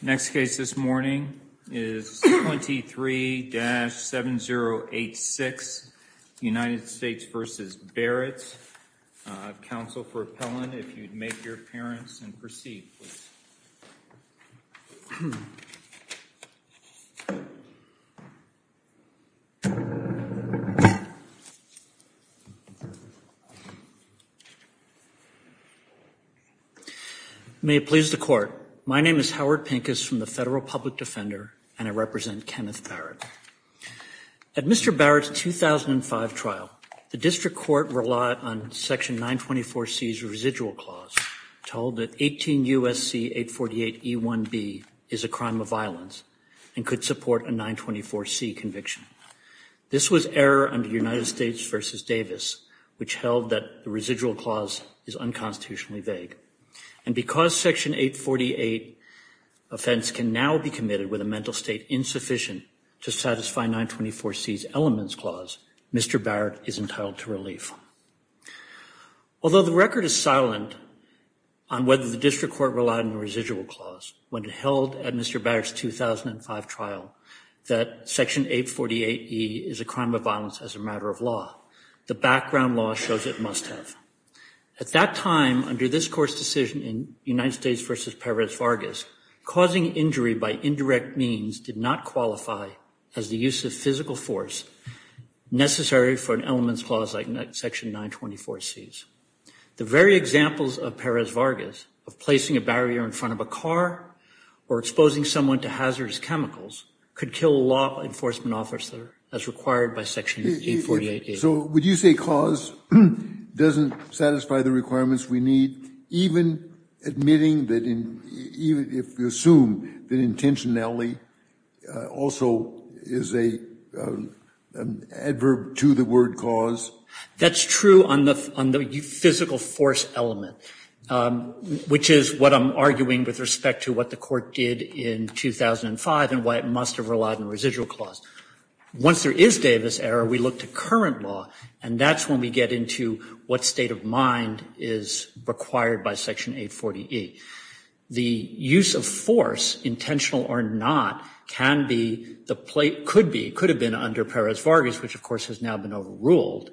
Next case this morning is 23-7086 United States v. Barrett, counsel for appellant if you would like to make your appearance and proceed, please. Howard Pincus May it please the court, my name is Howard Pincus from the Federal Public Defender and I represent Kenneth Barrett. At Mr. Barrett's 2005 trial, the district court relied on section 924C's residual clause to hold that 18 U.S.C. 848E1B is a crime of violence and could support a 924C conviction. This was error under United States v. Davis, which held that the residual clause is unconstitutionally vague. And because section 848 offense can now be committed with a mental state insufficient to satisfy 924C's elements clause, Mr. Barrett is entitled to relief. Although the record is silent on whether the district court relied on the residual clause when it held at Mr. Barrett's 2005 trial that section 848E is a crime of violence as a matter of law, the background law shows it must have. At that time, under this court's decision in United States v. Perez Vargas, causing injury by indirect means did not qualify as the use of physical force necessary for an elements clause like section 924C's. The very examples of Perez Vargas of placing a barrier in front of a car or exposing someone to hazardous chemicals could kill a law enforcement officer as required by section 848E. So would you say cause doesn't satisfy the requirements we need, even admitting that if you assume that intentionality also is an adverb to the word cause? That's true on the physical force element, which is what I'm arguing with respect to what the court did in 2005 and why it must have relied on residual clause. Once there is Davis error, we look to current law, and that's when we get into what state of mind is required by section 840E. The use of force, intentional or not, can be, could be, could have been under Perez Vargas, which of course has now been overruled,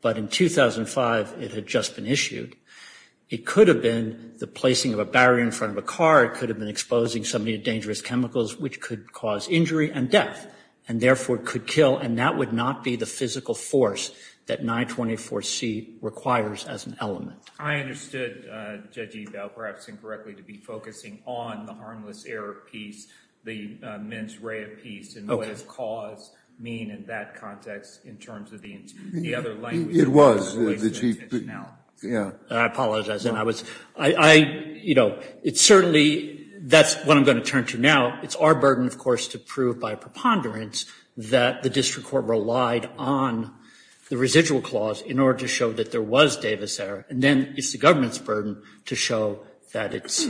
but in 2005 it had just been issued. It could have been the placing of a barrier in front of a car. It could have been exposing somebody to dangerous chemicals, which could cause injury and death, and therefore could kill, and that would not be the physical force that 924C requires as an element. I understood Judge Ebel, perhaps incorrectly, to be focusing on the harmless error piece, the mens rea piece, and what does cause mean in that context in terms of the other language? It was the chief, yeah. I apologize, and I was, I, you know, it's certainly, that's what I'm going to turn to now. It's our burden, of course, to prove by preponderance that the district court relied on the residual clause in order to show that there was Davis error, and then it's the government's burden to show that it's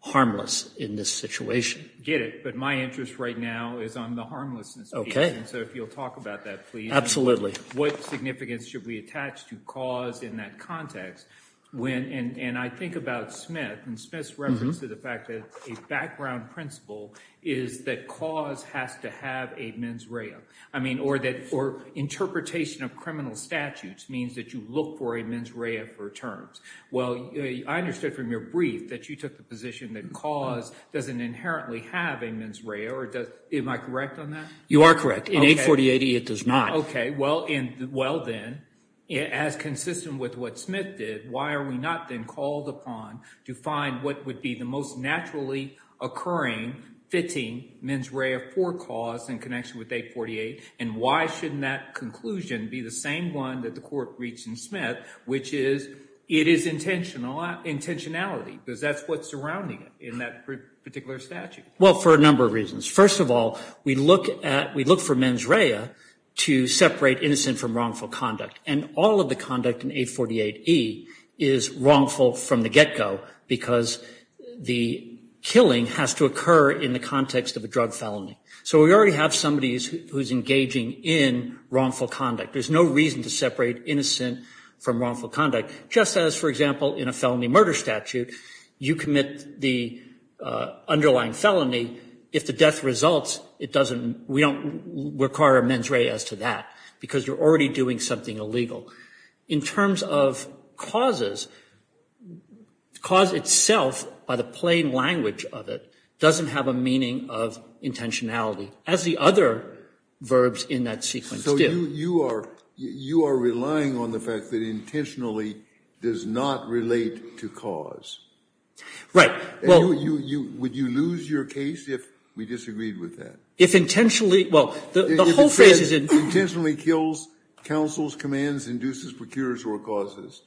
harmless in this situation. I get it, but my interest right now is on the harmlessness piece, and so if you'll talk about that, please. Absolutely. What significance should we attach to cause in that context when, and I think about Smith, and Smith's reference to the fact that a background principle is that cause has to have a mens rea. I mean, or that, or interpretation of criminal statutes means that you look for a mens rea for terms. Well, I understood from your brief that you took the position that cause doesn't inherently have a mens rea, or does, am I correct on that? You are correct. In 84080, it does not. Okay, well then, as consistent with what Smith did, why are we not then called upon to find what would be the most naturally occurring fitting mens rea for cause in connection with 848, and why shouldn't that conclusion be the same one that the court reached in Smith, which is it is intentionality, because that's what's surrounding it in that particular statute. Well, for a number of reasons. First of all, we look at, we look for mens rea to separate innocent from wrongful conduct, and all of the conduct in 848E is wrongful from the get-go, because the killing has to occur in the context of a drug felony. So we already have somebody who's engaging in wrongful conduct. There's no reason to separate innocent from wrongful conduct, just as, for example, in a felony murder statute, you commit the underlying felony. If the death results, it doesn't, we don't require a mens rea as to that, because you're already doing something illegal. In terms of causes, cause itself, by the plain language of it, doesn't have a meaning of intentionality, as the other verbs in that sequence do. You are relying on the fact that intentionally does not relate to cause. Would you lose your case if we disagreed with that? If intentionally, well, the whole phrase is in. If it says intentionally kills, counsels, commands, induces, procures, or causes,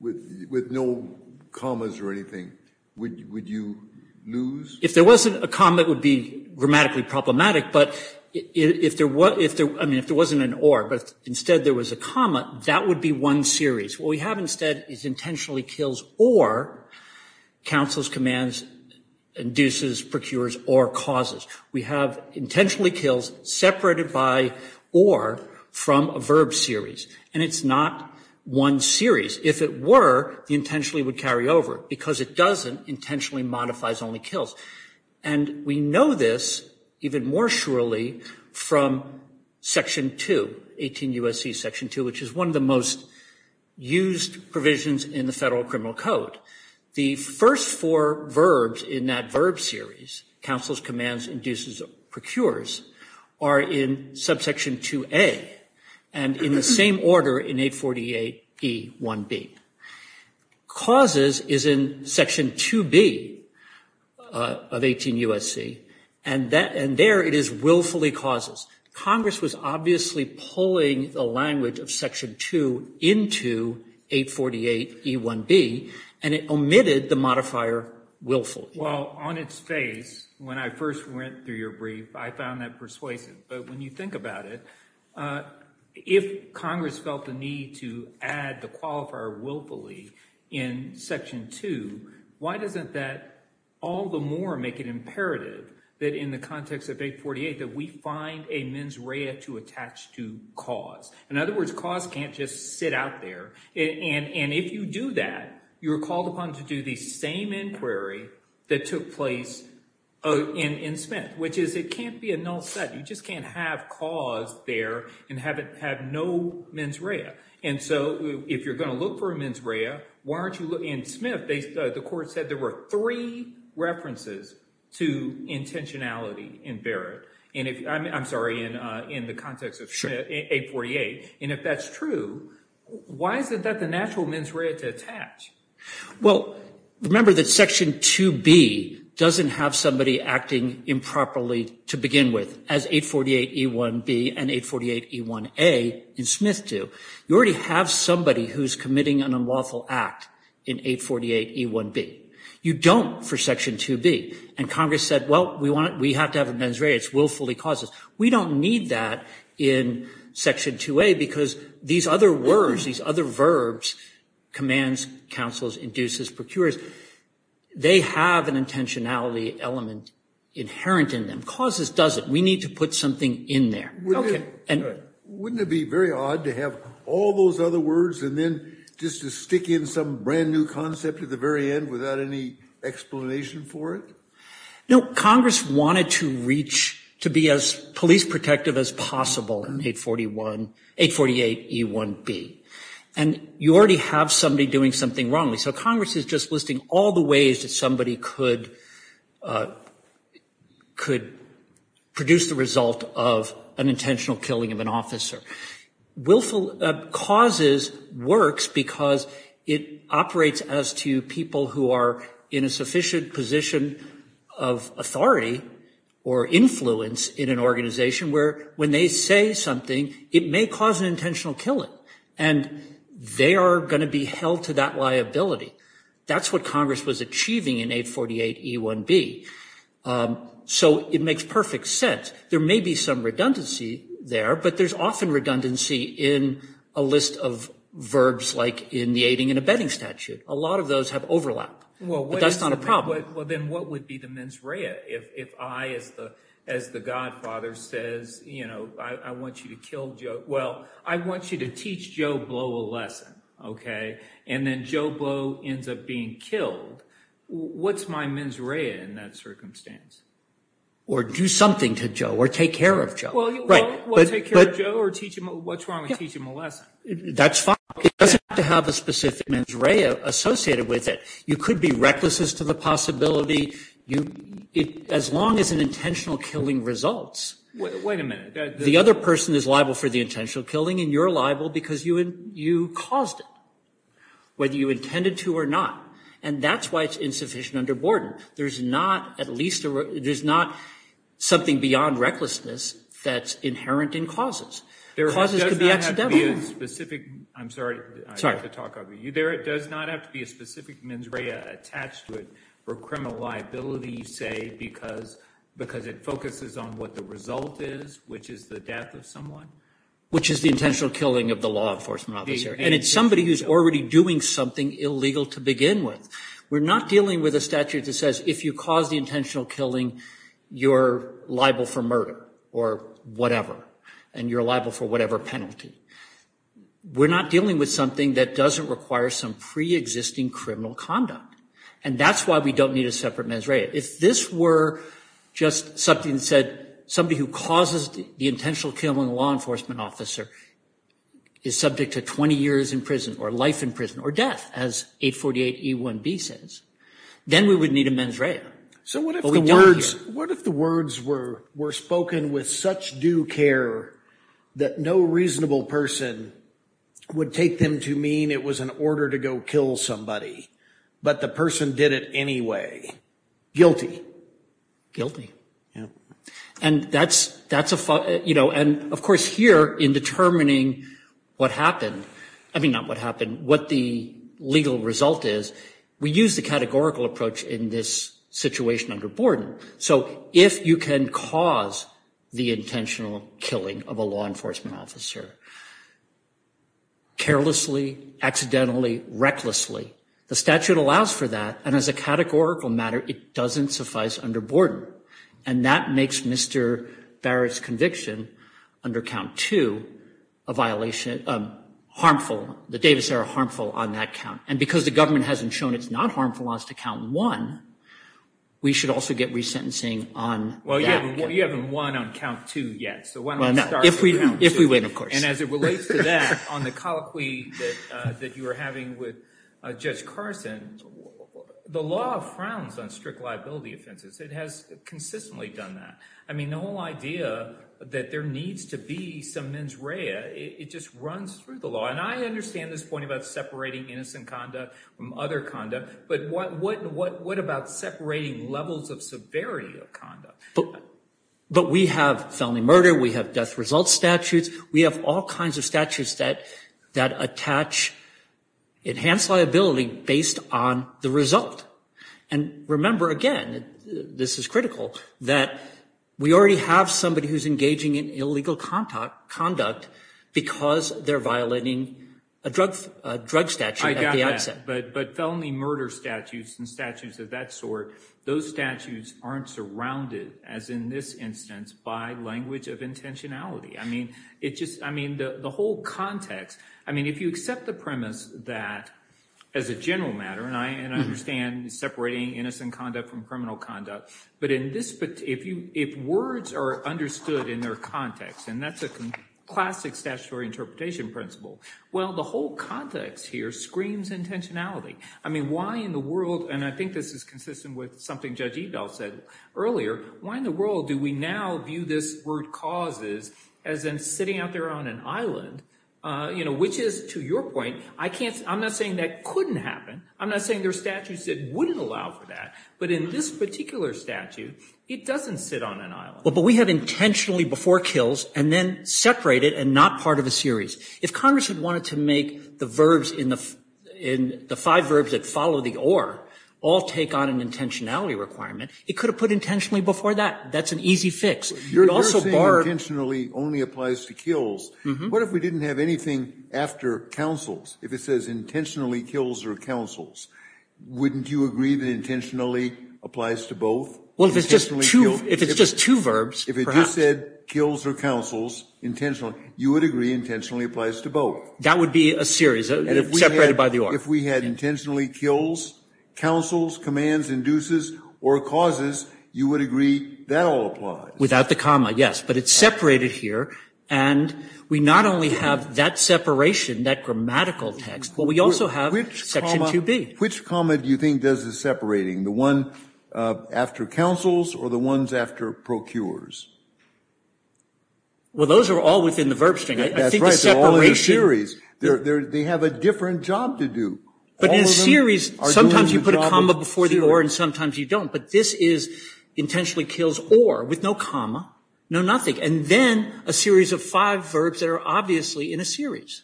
with no commas or anything, would you lose? If there wasn't a comma, it would be grammatically problematic, but if there wasn't an or, but instead there was a comma, that would be one series. What we have instead is intentionally kills or counsels, commands, induces, procures, or causes. We have intentionally kills separated by or from a verb series, and it's not one series. If it were, the intentionally would carry over. Because it doesn't, intentionally modifies only kills. And we know this even more surely from Section 2, 18 U.S.C. Section 2, which is one of the most used provisions in the Federal Criminal Code. The first four verbs in that verb series, counsels, commands, induces, procures, are in subsection 2A, and in the same order in 848E1B. Causes is in Section 2B of 18 U.S.C., and there it is willfully causes. Congress was obviously pulling the language of Section 2 into 848E1B, and it omitted the modifier willfully. Well, on its face, when I first went through your brief, I found that persuasive. But when you think about it, if Congress felt the need to add the qualifier willfully in Section 2, why doesn't that all the more make it imperative that in the context of 848 that we find a mens rea to attach to cause? In other words, cause can't just sit out there. And if you do that, you're called upon to do the same inquiry that took place in Smith, which is it can't be a null set. You just can't have cause there and have no mens rea. And so if you're going to look for a mens rea, why aren't you looking in Smith? The court said there were three references to intentionality in Barrett. And I'm sorry, in the context of 848. And if that's true, why isn't that the natural mens rea to attach? Well, remember that Section 2B doesn't have somebody acting improperly to begin with as 848E1B and 848E1A in Smith do. You already have somebody who's committing an unlawful act in 848E1B. You don't for Section 2B. And Congress said, well, we have to have a mens rea. It's willfully causes. We don't need that in Section 2A because these other words, these other verbs, commands, counsels, induces, procures, they have an intentionality element inherent in them. Causes doesn't. We need to put something in there. Okay. Wouldn't it be very odd to have all those other words and then just to stick in some brand new concept at the very end without any explanation for it? No, Congress wanted to reach, to be as police protective as possible in 848E1B. And you already have somebody doing something wrongly. So Congress is just listing all the ways that somebody could produce the result of an intentional killing of an officer. Willful causes works because it operates as to people who are in a sufficient position of authority or influence in an organization where when they say something, it may cause an intentional killing. And they are going to be held to that liability. That's what Congress was achieving in 848E1B. So it makes perfect sense. There may be some redundancy there, but there's often redundancy in a list of verbs like in the aiding and abetting statute. A lot of those have overlap. But that's not a problem. Well, then what would be the mens rea if I, as the godfather says, you know, I want you to kill Joe. Well, I want you to teach Joe Blow a lesson. Okay. And then Joe Blow ends up being killed. What's my mens rea in that circumstance? Or do something to Joe or take care of Joe. Well, take care of Joe or what's wrong with teaching him a lesson? That's fine. It doesn't have to have a specific mens rea associated with it. You could be reckless as to the possibility. As long as an intentional killing results. Wait a minute. The other person is liable for the intentional killing and you're liable because you caused it, whether you intended to or not. And that's why it's insufficient under Borden. There's not, at least, there's not something beyond recklessness that's inherent in causes. Causes could be accidental. There does not have to be a specific. I'm sorry to talk over you. There does not have to be a specific mens rea attached to it for criminal liability, you say, because it focuses on what the result is, which is the death of someone. Which is the intentional killing of the law enforcement officer. And it's somebody who's already doing something illegal to begin with. We're not dealing with a statute that says if you cause the intentional killing, you're liable for murder or whatever. And you're liable for whatever penalty. We're not dealing with something that doesn't require some pre-existing criminal conduct. And that's why we don't need a separate mens rea. If this were just something that said somebody who causes the intentional killing of a law enforcement officer is subject to 20 years in prison or life in prison or death, as 848E1B says, then we would need a mens rea. But we don't here. What if the words were spoken with such due care that no reasonable person would take them to mean it was an order to go kill somebody, but the person did it anyway? Guilty. And that's a, you know, and of course here in determining what happened, I mean not what happened, what the legal result is, we use the categorical approach in this situation under Borden. So if you can cause the intentional killing of a law enforcement officer carelessly, accidentally, recklessly, the statute allows for that. And as a categorical matter, it doesn't suffice under Borden. And that makes Mr. Barrett's conviction under count two a violation, harmful, the Davis-era harmful on that count. And because the government hasn't shown it's not harmful as to count one, we should also get resentencing on that count. Well, you haven't won on count two yet. So why don't we start on count two? If we win, of course. And as it relates to that, on the colloquy that you were having with Judge Carson, the law frowns on strict liability offenses. It has consistently done that. I mean the whole idea that there needs to be some mens rea, it just runs through the law. And I understand this point about separating innocent conduct from other conduct, but what about separating levels of severity of conduct? But we have felony murder, we have death result statutes, we have all kinds of statutes that attach enhanced liability based on the result. And remember again, this is critical, that we already have somebody who's engaging in illegal conduct because they're violating a drug statute at the outset. But felony murder statutes and statutes of that sort, those statutes aren't surrounded, as in this instance, by language of intentionality. I mean the whole context, I mean if you accept the premise that as a general matter, and I understand separating innocent conduct from criminal conduct, but if words are understood in their context, and that's a classic statutory interpretation principle, well the whole context here screams intentionality. I mean why in the world, and I think this is consistent with something Judge Eagle said earlier, why in the world do we now view this word causes as in sitting out there on an island, which is to your point, I'm not saying that couldn't happen, I'm not saying there are statutes that wouldn't allow for that, but in this particular statute, it doesn't sit on an island. But we have intentionally before kills and then separate it and not part of a series. If Congress had wanted to make the verbs in the five verbs that follow the or all take on an intentionality requirement, it could have put intentionally before that. That's an easy fix. It also barred. You're saying intentionally only applies to kills. What if we didn't have anything after counsels? If it says intentionally kills or counsels, wouldn't you agree that intentionally applies to both? Well, if it's just two verbs, perhaps. If it just said kills or counsels intentionally, you would agree intentionally applies to both. That would be a series, separated by the or. If we had intentionally kills, counsels, commands, induces, or causes, you would agree that all applies. Without the comma, yes. But it's separated here, and we not only have that separation, that grammatical text, but we also have section 2B. Which comma do you think does the separating? The one after counsels or the ones after procures? Well, those are all within the verb string. That's right. They're all in a series. They have a different job to do. But in series, sometimes you put a comma before the or and sometimes you don't. But this is intentionally kills or with no comma, no nothing, and then a series of five verbs that are obviously in a series.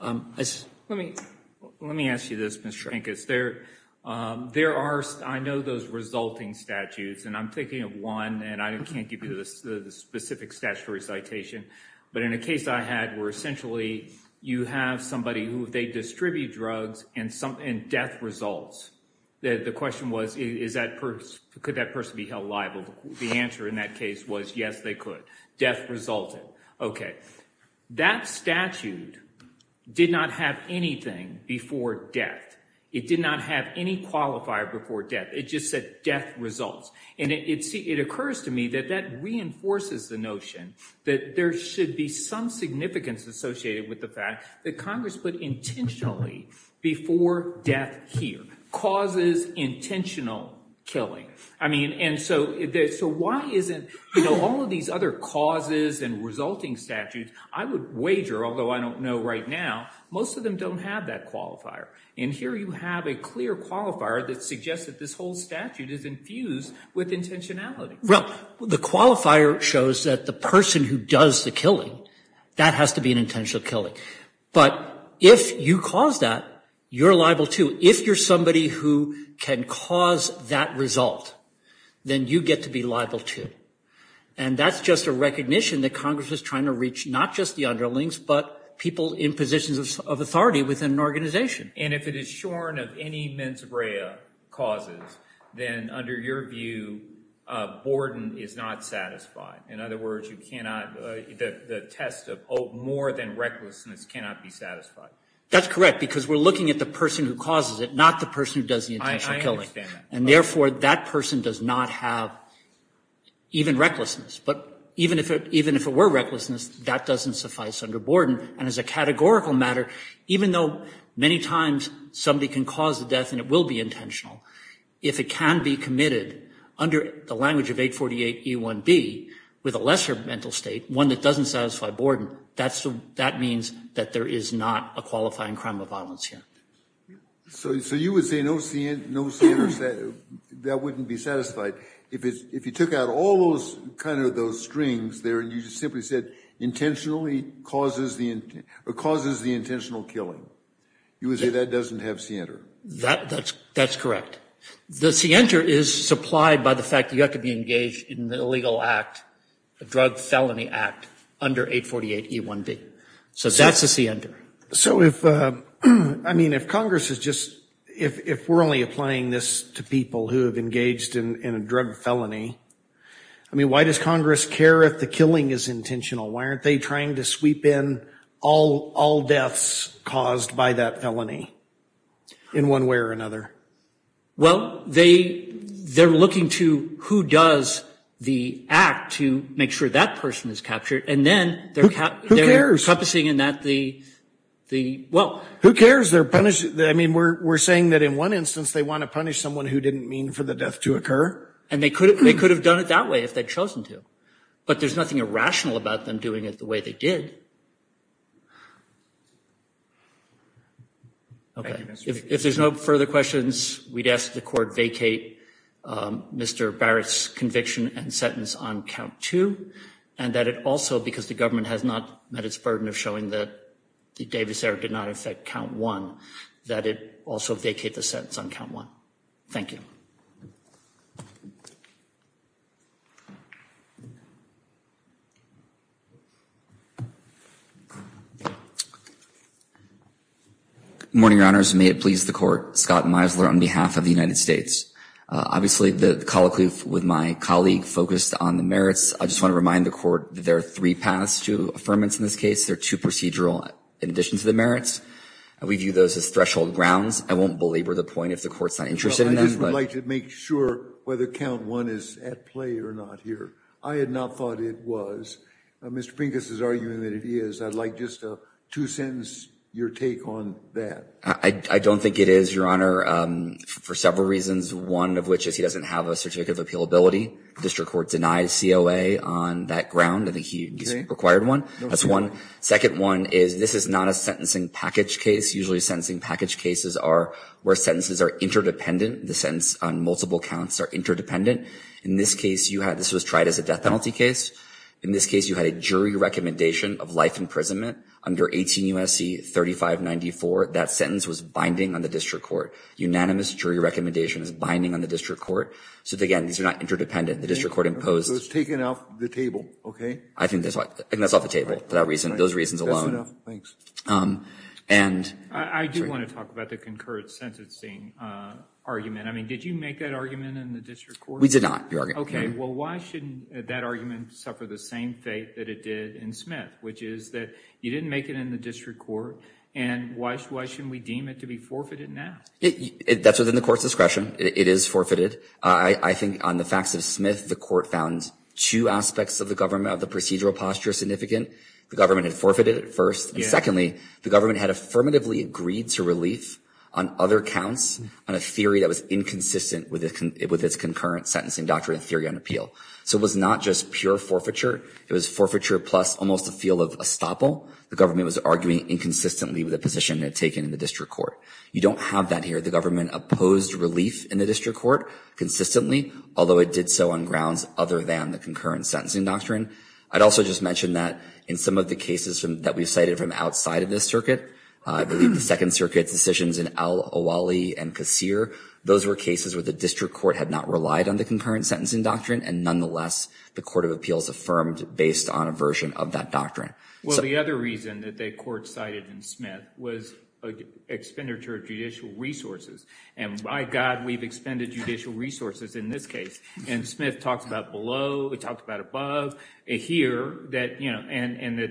Let me ask you this, Mr. Pincus. There are, I know those resulting statutes, and I'm thinking of one, and I can't give you the specific statutory citation. But in a case I had where essentially you have somebody who they distribute drugs and death results. The question was, could that person be held liable? The answer in that case was yes, they could. Death resulted. Okay. That statute did not have anything before death. It did not have any qualifier before death. It just said death results. And it occurs to me that that reinforces the notion that there should be some significance associated with the fact that Congress put intentionally before death here. Causes intentional killing. I mean, and so why isn't, you know, all of these other causes and resulting statutes, I would wager, although I don't know right now, most of them don't have that qualifier. And here you have a clear qualifier that suggests that this whole statute is infused with intentionality. Well, the qualifier shows that the person who does the killing, that has to be an intentional killing. But if you cause that, you're liable too. If you're somebody who can cause that result, then you get to be liable too. And that's just a recognition that Congress is trying to reach not just the underlings, but people in positions of authority within an organization. And if it is shorn of any mens rea causes, then under your view, borden is not satisfied. In other words, you cannot, the test of more than recklessness cannot be satisfied. That's correct, because we're looking at the person who causes it, not the person who does the intentional killing. I understand that. And therefore, that person does not have even recklessness. But even if it were recklessness, that doesn't suffice under borden. And as a categorical matter, even though many times somebody can cause the death and it will be intentional, if it can be committed under the language of 848E1B with a lesser mental state, one that doesn't satisfy borden, that means that there is not a qualifying crime of violence here. So you would say that wouldn't be satisfied if you took out all those kind of those strings there and you just simply said intentionally causes the intentional killing. You would say that doesn't have scienter. That's correct. The scienter is supplied by the fact that you have to be engaged in the illegal act, the drug felony act under 848E1B. So that's the scienter. So if, I mean, if Congress is just, if we're only applying this to people who have engaged in a drug felony, I mean, why does Congress care if the killing is intentional? Why aren't they trying to sweep in all deaths caused by that felony in one way or another? Well, they're looking to who does the act to make sure that person is captured. And then they're encompassing in that the, well. Who cares? They're punished. I mean, we're saying that in one instance they want to punish someone who didn't mean for the death to occur. And they could have done it that way if they'd chosen to. But there's nothing irrational about them doing it the way they did. Okay. If there's no further questions, we'd ask the court vacate Mr. Barrett's conviction and sentence on count two. And that it also, because the government has not met its burden of showing that the Davis error did not affect count one, that it also vacate the sentence on count one. Thank you. Morning, Your Honors. May it please the court. Scott Meisler on behalf of the United States. Obviously, the colloquy with my colleague focused on the merits. I just want to remind the court that there are three paths to affirmance in this case. There are two procedural in addition to the merits. We view those as threshold grounds. I won't belabor the point if the court's not interested in them, but. Well, I just would like to make sure whether count one is at play or not here. I had not thought it was. Mr. Pinkus is arguing that it is. I'd like just to sentence your take on that. I don't think it is, Your Honor, for several reasons. One of which is he doesn't have a certificate of appealability. District Court denies COA on that ground. I think he's required one. That's one. Second one is this is not a sentencing package case. Usually, sentencing package cases are where sentences are interdependent. The sentence on multiple counts are interdependent. In this case, this was tried as a death penalty case. In this case, you had a jury recommendation of life imprisonment under 18 U.S.C. 3594. That sentence was binding on the District Court. Unanimous jury recommendation is binding on the District Court. So, again, these are not interdependent. The District Court imposed. It was taken off the table. Okay? I think that's off the table for those reasons alone. That's enough. Thanks. And. I do want to talk about the concurrent sentencing argument. I mean, did you make that argument in the District Court? We did not. Okay. Well, why shouldn't that argument suffer the same fate that it did in Smith, which is that you didn't make it in the District Court, and why shouldn't we deem it to be forfeited now? That's within the court's discretion. It is forfeited. I think on the facts of Smith, the court found two aspects of the procedural posture significant. The government had forfeited it first. Secondly, the government had affirmatively agreed to relief on other counts on a theory that was inconsistent with its concurrent sentencing doctrine and theory on appeal. So it was not just pure forfeiture. It was forfeiture plus almost a feel of estoppel. The government was arguing inconsistently with a position it had taken in the District Court. You don't have that here. The government opposed relief in the District Court consistently, although it did so on grounds other than the concurrent sentencing doctrine. I'd also just mention that in some of the cases that we've cited from outside of this circuit, I believe the Second Circuit's decisions in Al-Awali and Qasir, those were cases where the District Court had not relied on the concurrent sentencing doctrine, and nonetheless the Court of Appeals affirmed based on a version of that doctrine. Well, the other reason that the court cited in Smith was expenditure of judicial resources. And by God, we've expended judicial resources in this case. And Smith talked about below. He talked about above. And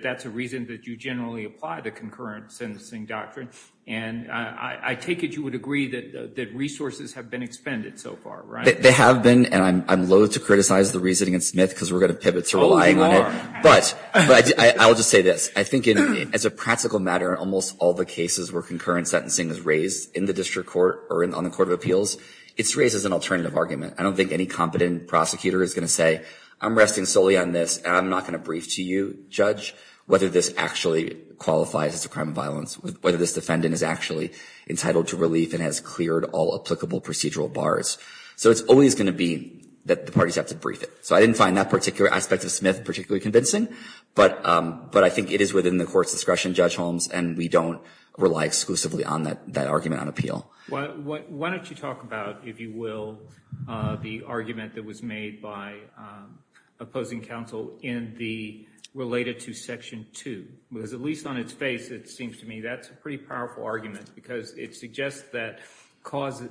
that's a reason that you generally apply the concurrent sentencing doctrine. And I take it you would agree that resources have been expended so far, right? They have been, and I'm loathe to criticize the reasoning in Smith because we're going to pivot to relying on it. But I will just say this. I think as a practical matter, almost all the cases where concurrent sentencing is raised in the District Court or on the Court of Appeals, it's raised as an alternative argument. I don't think any competent prosecutor is going to say, I'm resting solely on this and I'm not going to brief to you, Judge, whether this actually qualifies as a crime of violence, whether this defendant is actually entitled to relief and has cleared all applicable procedural bars. So it's always going to be that the parties have to brief it. So I didn't find that particular aspect of Smith particularly convincing. But I think it is within the Court's discretion, Judge Holmes, and we don't rely exclusively on that argument on appeal. Why don't you talk about, if you will, the argument that was made by opposing counsel in the related to Section 2. Because at least on its face, it seems to me, that's a pretty powerful argument because it suggests that causes,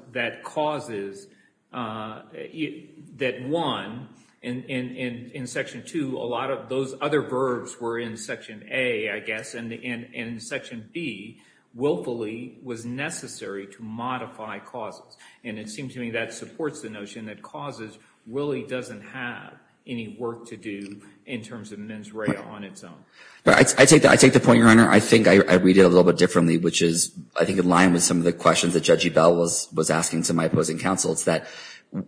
that one, in Section 2, a lot of those other verbs were in Section A, I guess, and in Section B, willfully was necessary to modify causes. And it seems to me that supports the notion that causes really doesn't have any work to do in terms of mens rea on its own. I take the point, Your Honor. I think I read it a little bit differently, which is I think in line with some of the questions that Judge Ebell was asking to my opposing counsel. It's that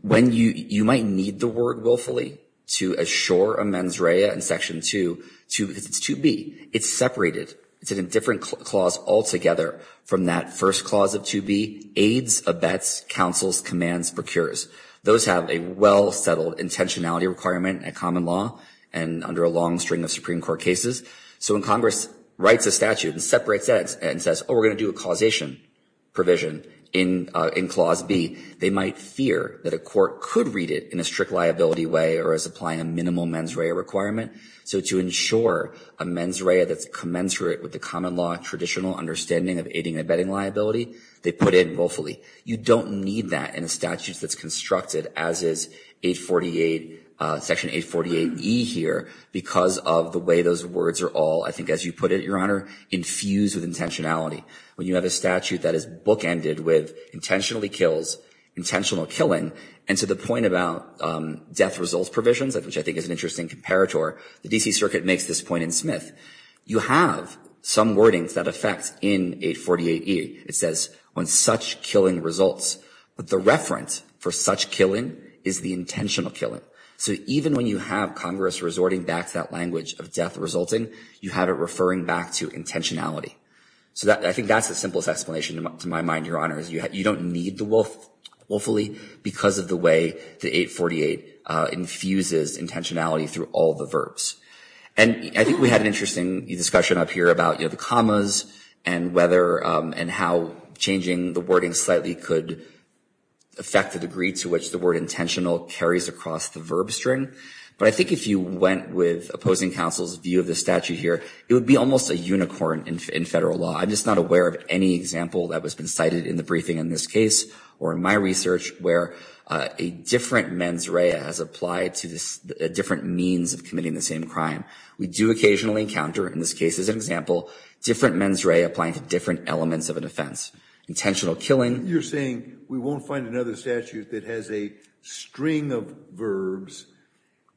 when you might need the word willfully to assure a mens rea in Section 2, because it's 2B, it's separated. It's in a different clause altogether from that first clause of 2B, aids, abets, counsels, commands, procures. Those have a well-settled intentionality requirement in common law and under a long string of Supreme Court cases. So when Congress writes a statute and separates that and says, oh, we're going to do a causation provision in Clause B, they might fear that a court could read it in a strict liability way or as applying a minimal mens rea requirement. So to ensure a mens rea that's commensurate with the common law, traditional understanding of aiding and abetting liability, they put it willfully. You don't need that in a statute that's constructed as is Section 848E here because of the way those words are all, I think as you put it, Your Honor, infused with intentionality. When you have a statute that is bookended with intentionally kills, intentional killing, and to the point about death results provisions, which I think is an interesting comparator, the D.C. Circuit makes this point in Smith. You have some wordings that affect in 848E. It says, on such killing results. But the reference for such killing is the intentional killing. So even when you have Congress resorting back to that language of death resulting, you have it referring back to intentionality. So I think that's the simplest explanation to my mind, Your Honor, is you don't need the willfully because of the way the 848 infuses intentionality through all the verbs. And I think we had an interesting discussion up here about, you know, the commas and whether and how changing the wording slightly could affect the degree to which the word intentional carries across the verb string. But I think if you went with opposing counsel's view of the statute here, it would be almost a unicorn in federal law. I'm just not aware of any example that has been cited in the briefing in this different means of committing the same crime. We do occasionally encounter, in this case as an example, different mens rea applying to different elements of a defense. Intentional killing. You're saying we won't find another statute that has a string of verbs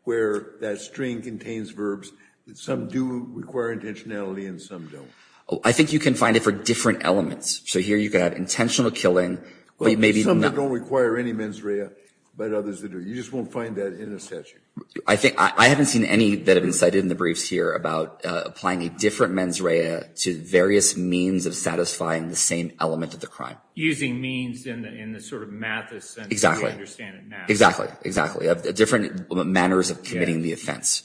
where that string contains verbs that some do require intentionality and some don't. I think you can find it for different elements. So here you've got intentional killing. Some that don't require any mens rea, but others that do. You just won't find that in a statute. I think I haven't seen any that have been cited in the briefs here about applying a different mens rea to various means of satisfying the same element of the crime. Using means in the sort of math sense. Exactly. We understand it now. Exactly. Exactly. Different manners of committing the offense.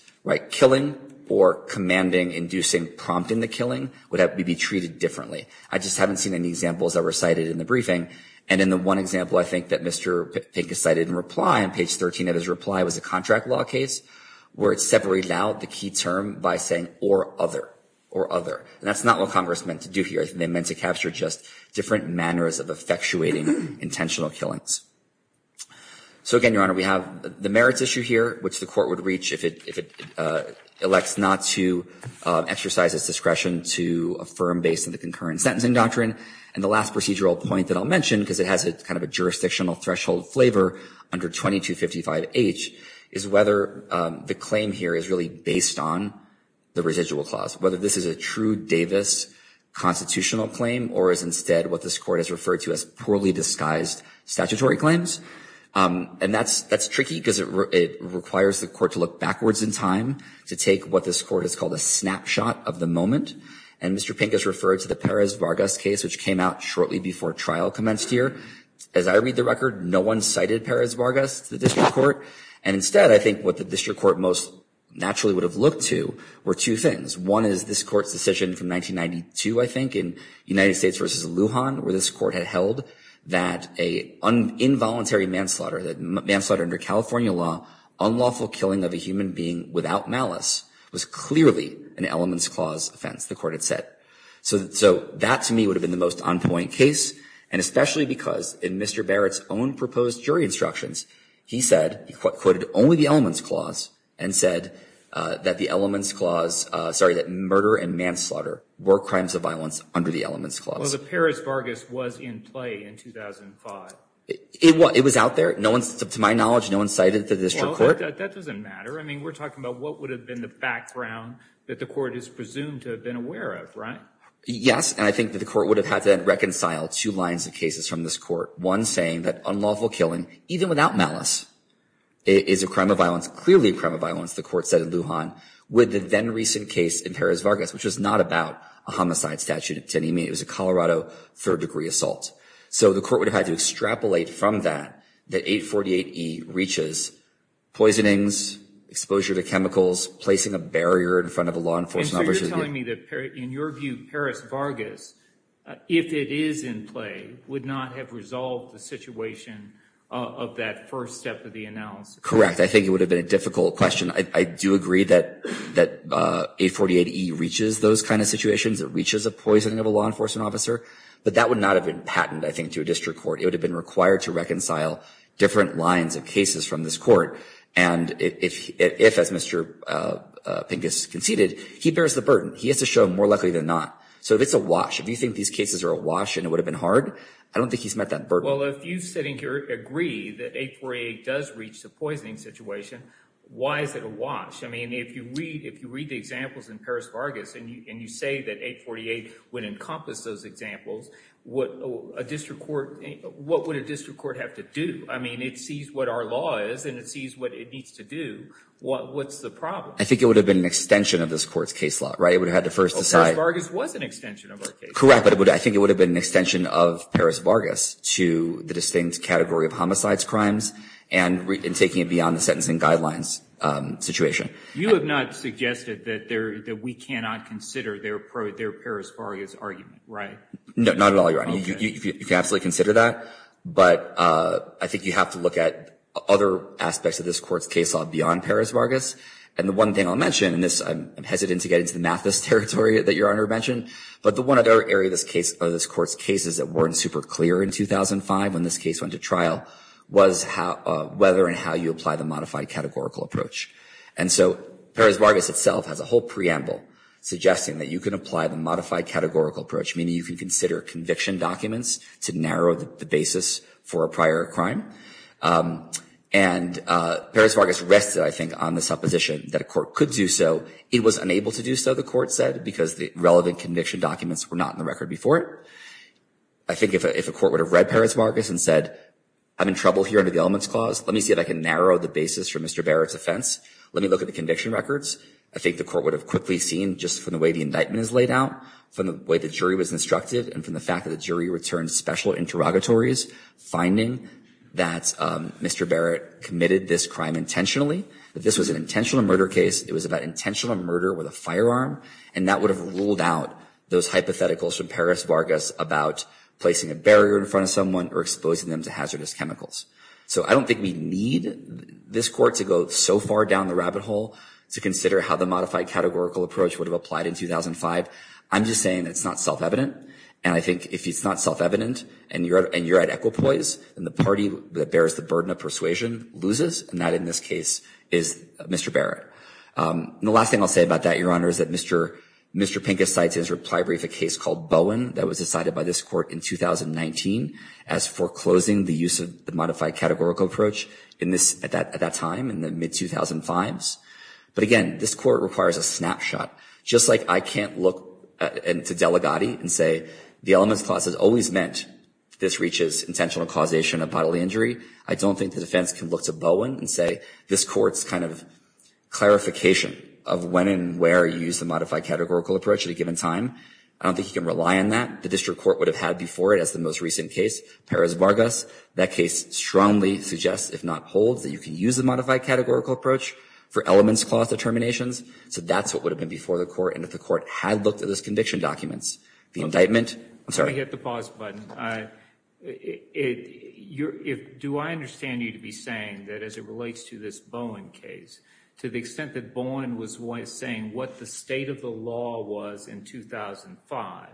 Killing or commanding, inducing, prompting the killing would be treated differently. I just haven't seen any examples that were cited in the briefing. And in the one example I think that Mr. Pink has cited in reply, on page 13 of his reply, was a contract law case where it severally allowed the key term by saying or other. Or other. And that's not what Congress meant to do here. They meant to capture just different manners of effectuating intentional killings. So again, Your Honor, we have the merits issue here, which the court would reach if it elects not to exercise its discretion to affirm based on the concurrent sentencing doctrine. And the last procedural point that I'll mention, because it has kind of a jurisdictional threshold flavor under 2255H, is whether the claim here is really based on the residual clause. Whether this is a true Davis constitutional claim or is instead what this court has referred to as poorly disguised statutory claims. And that's tricky because it requires the court to look backwards in time to take what this court has called a snapshot of the moment. And Mr. Pink has referred to the Perez-Vargas case, which came out shortly before trial commenced here. As I read the record, no one cited Perez-Vargas to the district court. And instead, I think what the district court most naturally would have looked to were two things. One is this court's decision from 1992, I think, in United States versus Lujan, where this court had held that an involuntary manslaughter, that manslaughter under California law, unlawful killing of a human being without malice, was clearly an elements clause offense, the court had said. So that, to me, would have been the most on-point case, and especially because in Mr. Barrett's own proposed jury instructions, he said, he quoted only the elements clause and said that the elements clause, sorry, that murder and manslaughter were crimes of violence under the elements clause. Well, the Perez-Vargas was in play in 2005. It was out there. To my knowledge, no one cited it to the district court. Well, that doesn't matter. I mean, we're talking about what would have been the background that the court is presumed to have been aware of, right? Yes, and I think that the court would have had to reconcile two lines of cases from this court. One saying that unlawful killing, even without malice, is a crime of violence, clearly a crime of violence, the court said in Lujan, with the then-recent case in Perez-Vargas, which was not about a homicide statute. To me, it was a Colorado third-degree assault. So the court would have had to extrapolate from that that 848E reaches poisonings, exposure to chemicals, placing a barrier in front of a law enforcement officer. And so you're telling me that, in your view, Perez-Vargas, if it is in play, would not have resolved the situation of that first step of the analysis? Correct. I think it would have been a difficult question. I do agree that 848E reaches those kind of situations. It reaches a poisoning of a law enforcement officer. But that would not have been patented, I think, to a district court. It would have been required to reconcile different lines of cases from this court. And if, as Mr. Pincus conceded, he bears the burden. He has to show more likely than not. So if it's a wash, if you think these cases are a wash and it would have been hard, I don't think he's met that burden. Well, if you sitting here agree that 848E does reach the poisoning situation, why is it a wash? I mean, if you read the examples in Perez-Vargas and you say that 848E would encompass those examples, what would a district court have to do? I mean, it sees what our law is and it sees what it needs to do. What's the problem? I think it would have been an extension of this court's case law, right? It would have had to first decide. Well, Perez-Vargas was an extension of our case law. Correct, but I think it would have been an extension of Perez-Vargas to the distinct category of homicides, crimes, and taking it beyond the sentencing guidelines situation. You have not suggested that we cannot consider their Perez-Vargas argument, right? No, not at all, Your Honor. You can absolutely consider that, but I think you have to look at other aspects of this court's case law beyond Perez-Vargas. And the one thing I'll mention, and I'm hesitant to get into the Mathis territory that Your Honor mentioned, but the one other area of this court's case that weren't super clear in 2005 when this case went to trial was whether and how you apply the modified categorical approach. And so Perez-Vargas itself has a whole preamble suggesting that you can apply the modified categorical approach, meaning you can consider conviction documents to narrow the basis for a prior crime. And Perez-Vargas rested, I think, on the supposition that a court could do so. It was unable to do so, the court said, because the relevant conviction documents were not in the record before it. I think if a court would have read Perez-Vargas and said, I'm in trouble here under the elements clause, let me see if I can narrow the basis for Mr. Barrett's offense, let me look at the conviction records, I think the court would have quickly seen just from the way the indictment is laid out, from the way the jury was instructed, and from the fact that the jury returned special interrogatories, finding that Mr. Barrett committed this crime intentionally, that this was an intentional murder case, it was about intentional murder with a firearm, and that would have ruled out those hypotheticals from Perez-Vargas about placing a barrier in front of someone or exposing them to hazardous chemicals. So I don't think we need this court to go so far down the rabbit hole to consider how the modified categorical approach would have applied in 2005. I'm just saying it's not self-evident, and I think if it's not self-evident and you're at equipoise, then the party that bears the burden of persuasion loses, and that in this case is Mr. Barrett. The last thing I'll say about that, Your Honor, is that Mr. Pincus cites in his foreclosing the use of the modified categorical approach at that time, in the mid-2005s. But again, this court requires a snapshot. Just like I can't look to Delegati and say the elements clause has always meant this reaches intentional causation of bodily injury, I don't think the defense can look to Bowen and say this court's kind of clarification of when and where he used the modified categorical approach at a given time. I don't think he can rely on that. The district court would have had before it, as the most recent case, Perez-Vargas. That case strongly suggests, if not holds, that you can use the modified categorical approach for elements clause determinations. So that's what would have been before the court, and if the court had looked at those conviction documents, the indictment— Let me hit the pause button. Do I understand you to be saying that as it relates to this Bowen case, to the extent that Bowen was saying what the state of the law was in 2005,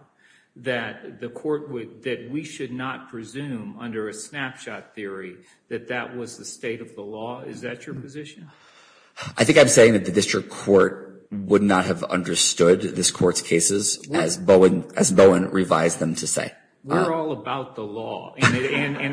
that the court would—that we should not presume under a snapshot theory that that was the state of the law? Is that your position? I think I'm saying that the district court would not have understood this court's cases as Bowen revised them to say. We're all about the law. And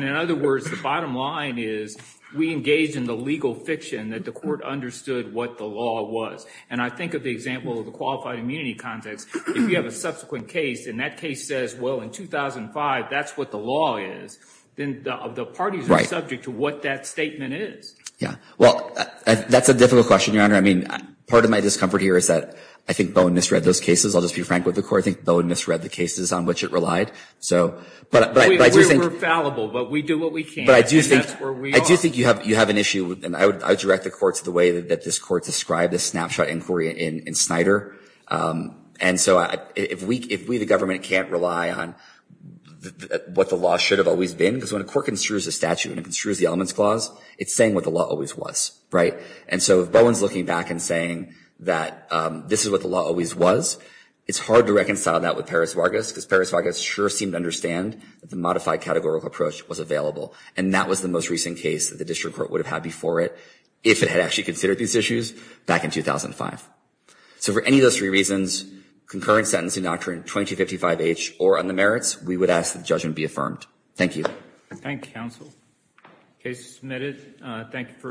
in other words, the bottom line is we engaged in the legal fiction that the state of the law was. And I think of the example of the qualified immunity context, if you have a subsequent case, and that case says, well, in 2005, that's what the law is, then the parties are subject to what that statement is. Yeah. Well, that's a difficult question, Your Honor. I mean, part of my discomfort here is that I think Bowen misread those cases. I'll just be frank with the court. I think Bowen misread the cases on which it relied. So, but I do think— We were fallible, but we do what we can, and that's where we are. I do think you have an issue, and I would direct the court to the way that this court described this snapshot inquiry in Snyder. And so if we, the government, can't rely on what the law should have always been, because when a court construes a statute and it construes the elements clause, it's saying what the law always was, right? And so if Bowen's looking back and saying that this is what the law always was, it's hard to reconcile that with Peres-Vargas, because Peres-Vargas sure seemed to understand that the modified categorical approach was available. And that was the most recent case that the district court would have had before it, if it had actually considered these issues, back in 2005. So for any of those three reasons, concurrent sentencing doctrine 2255H, or on the merits, we would ask that the judgment be affirmed. Thank you. Thank you, counsel. Case is submitted.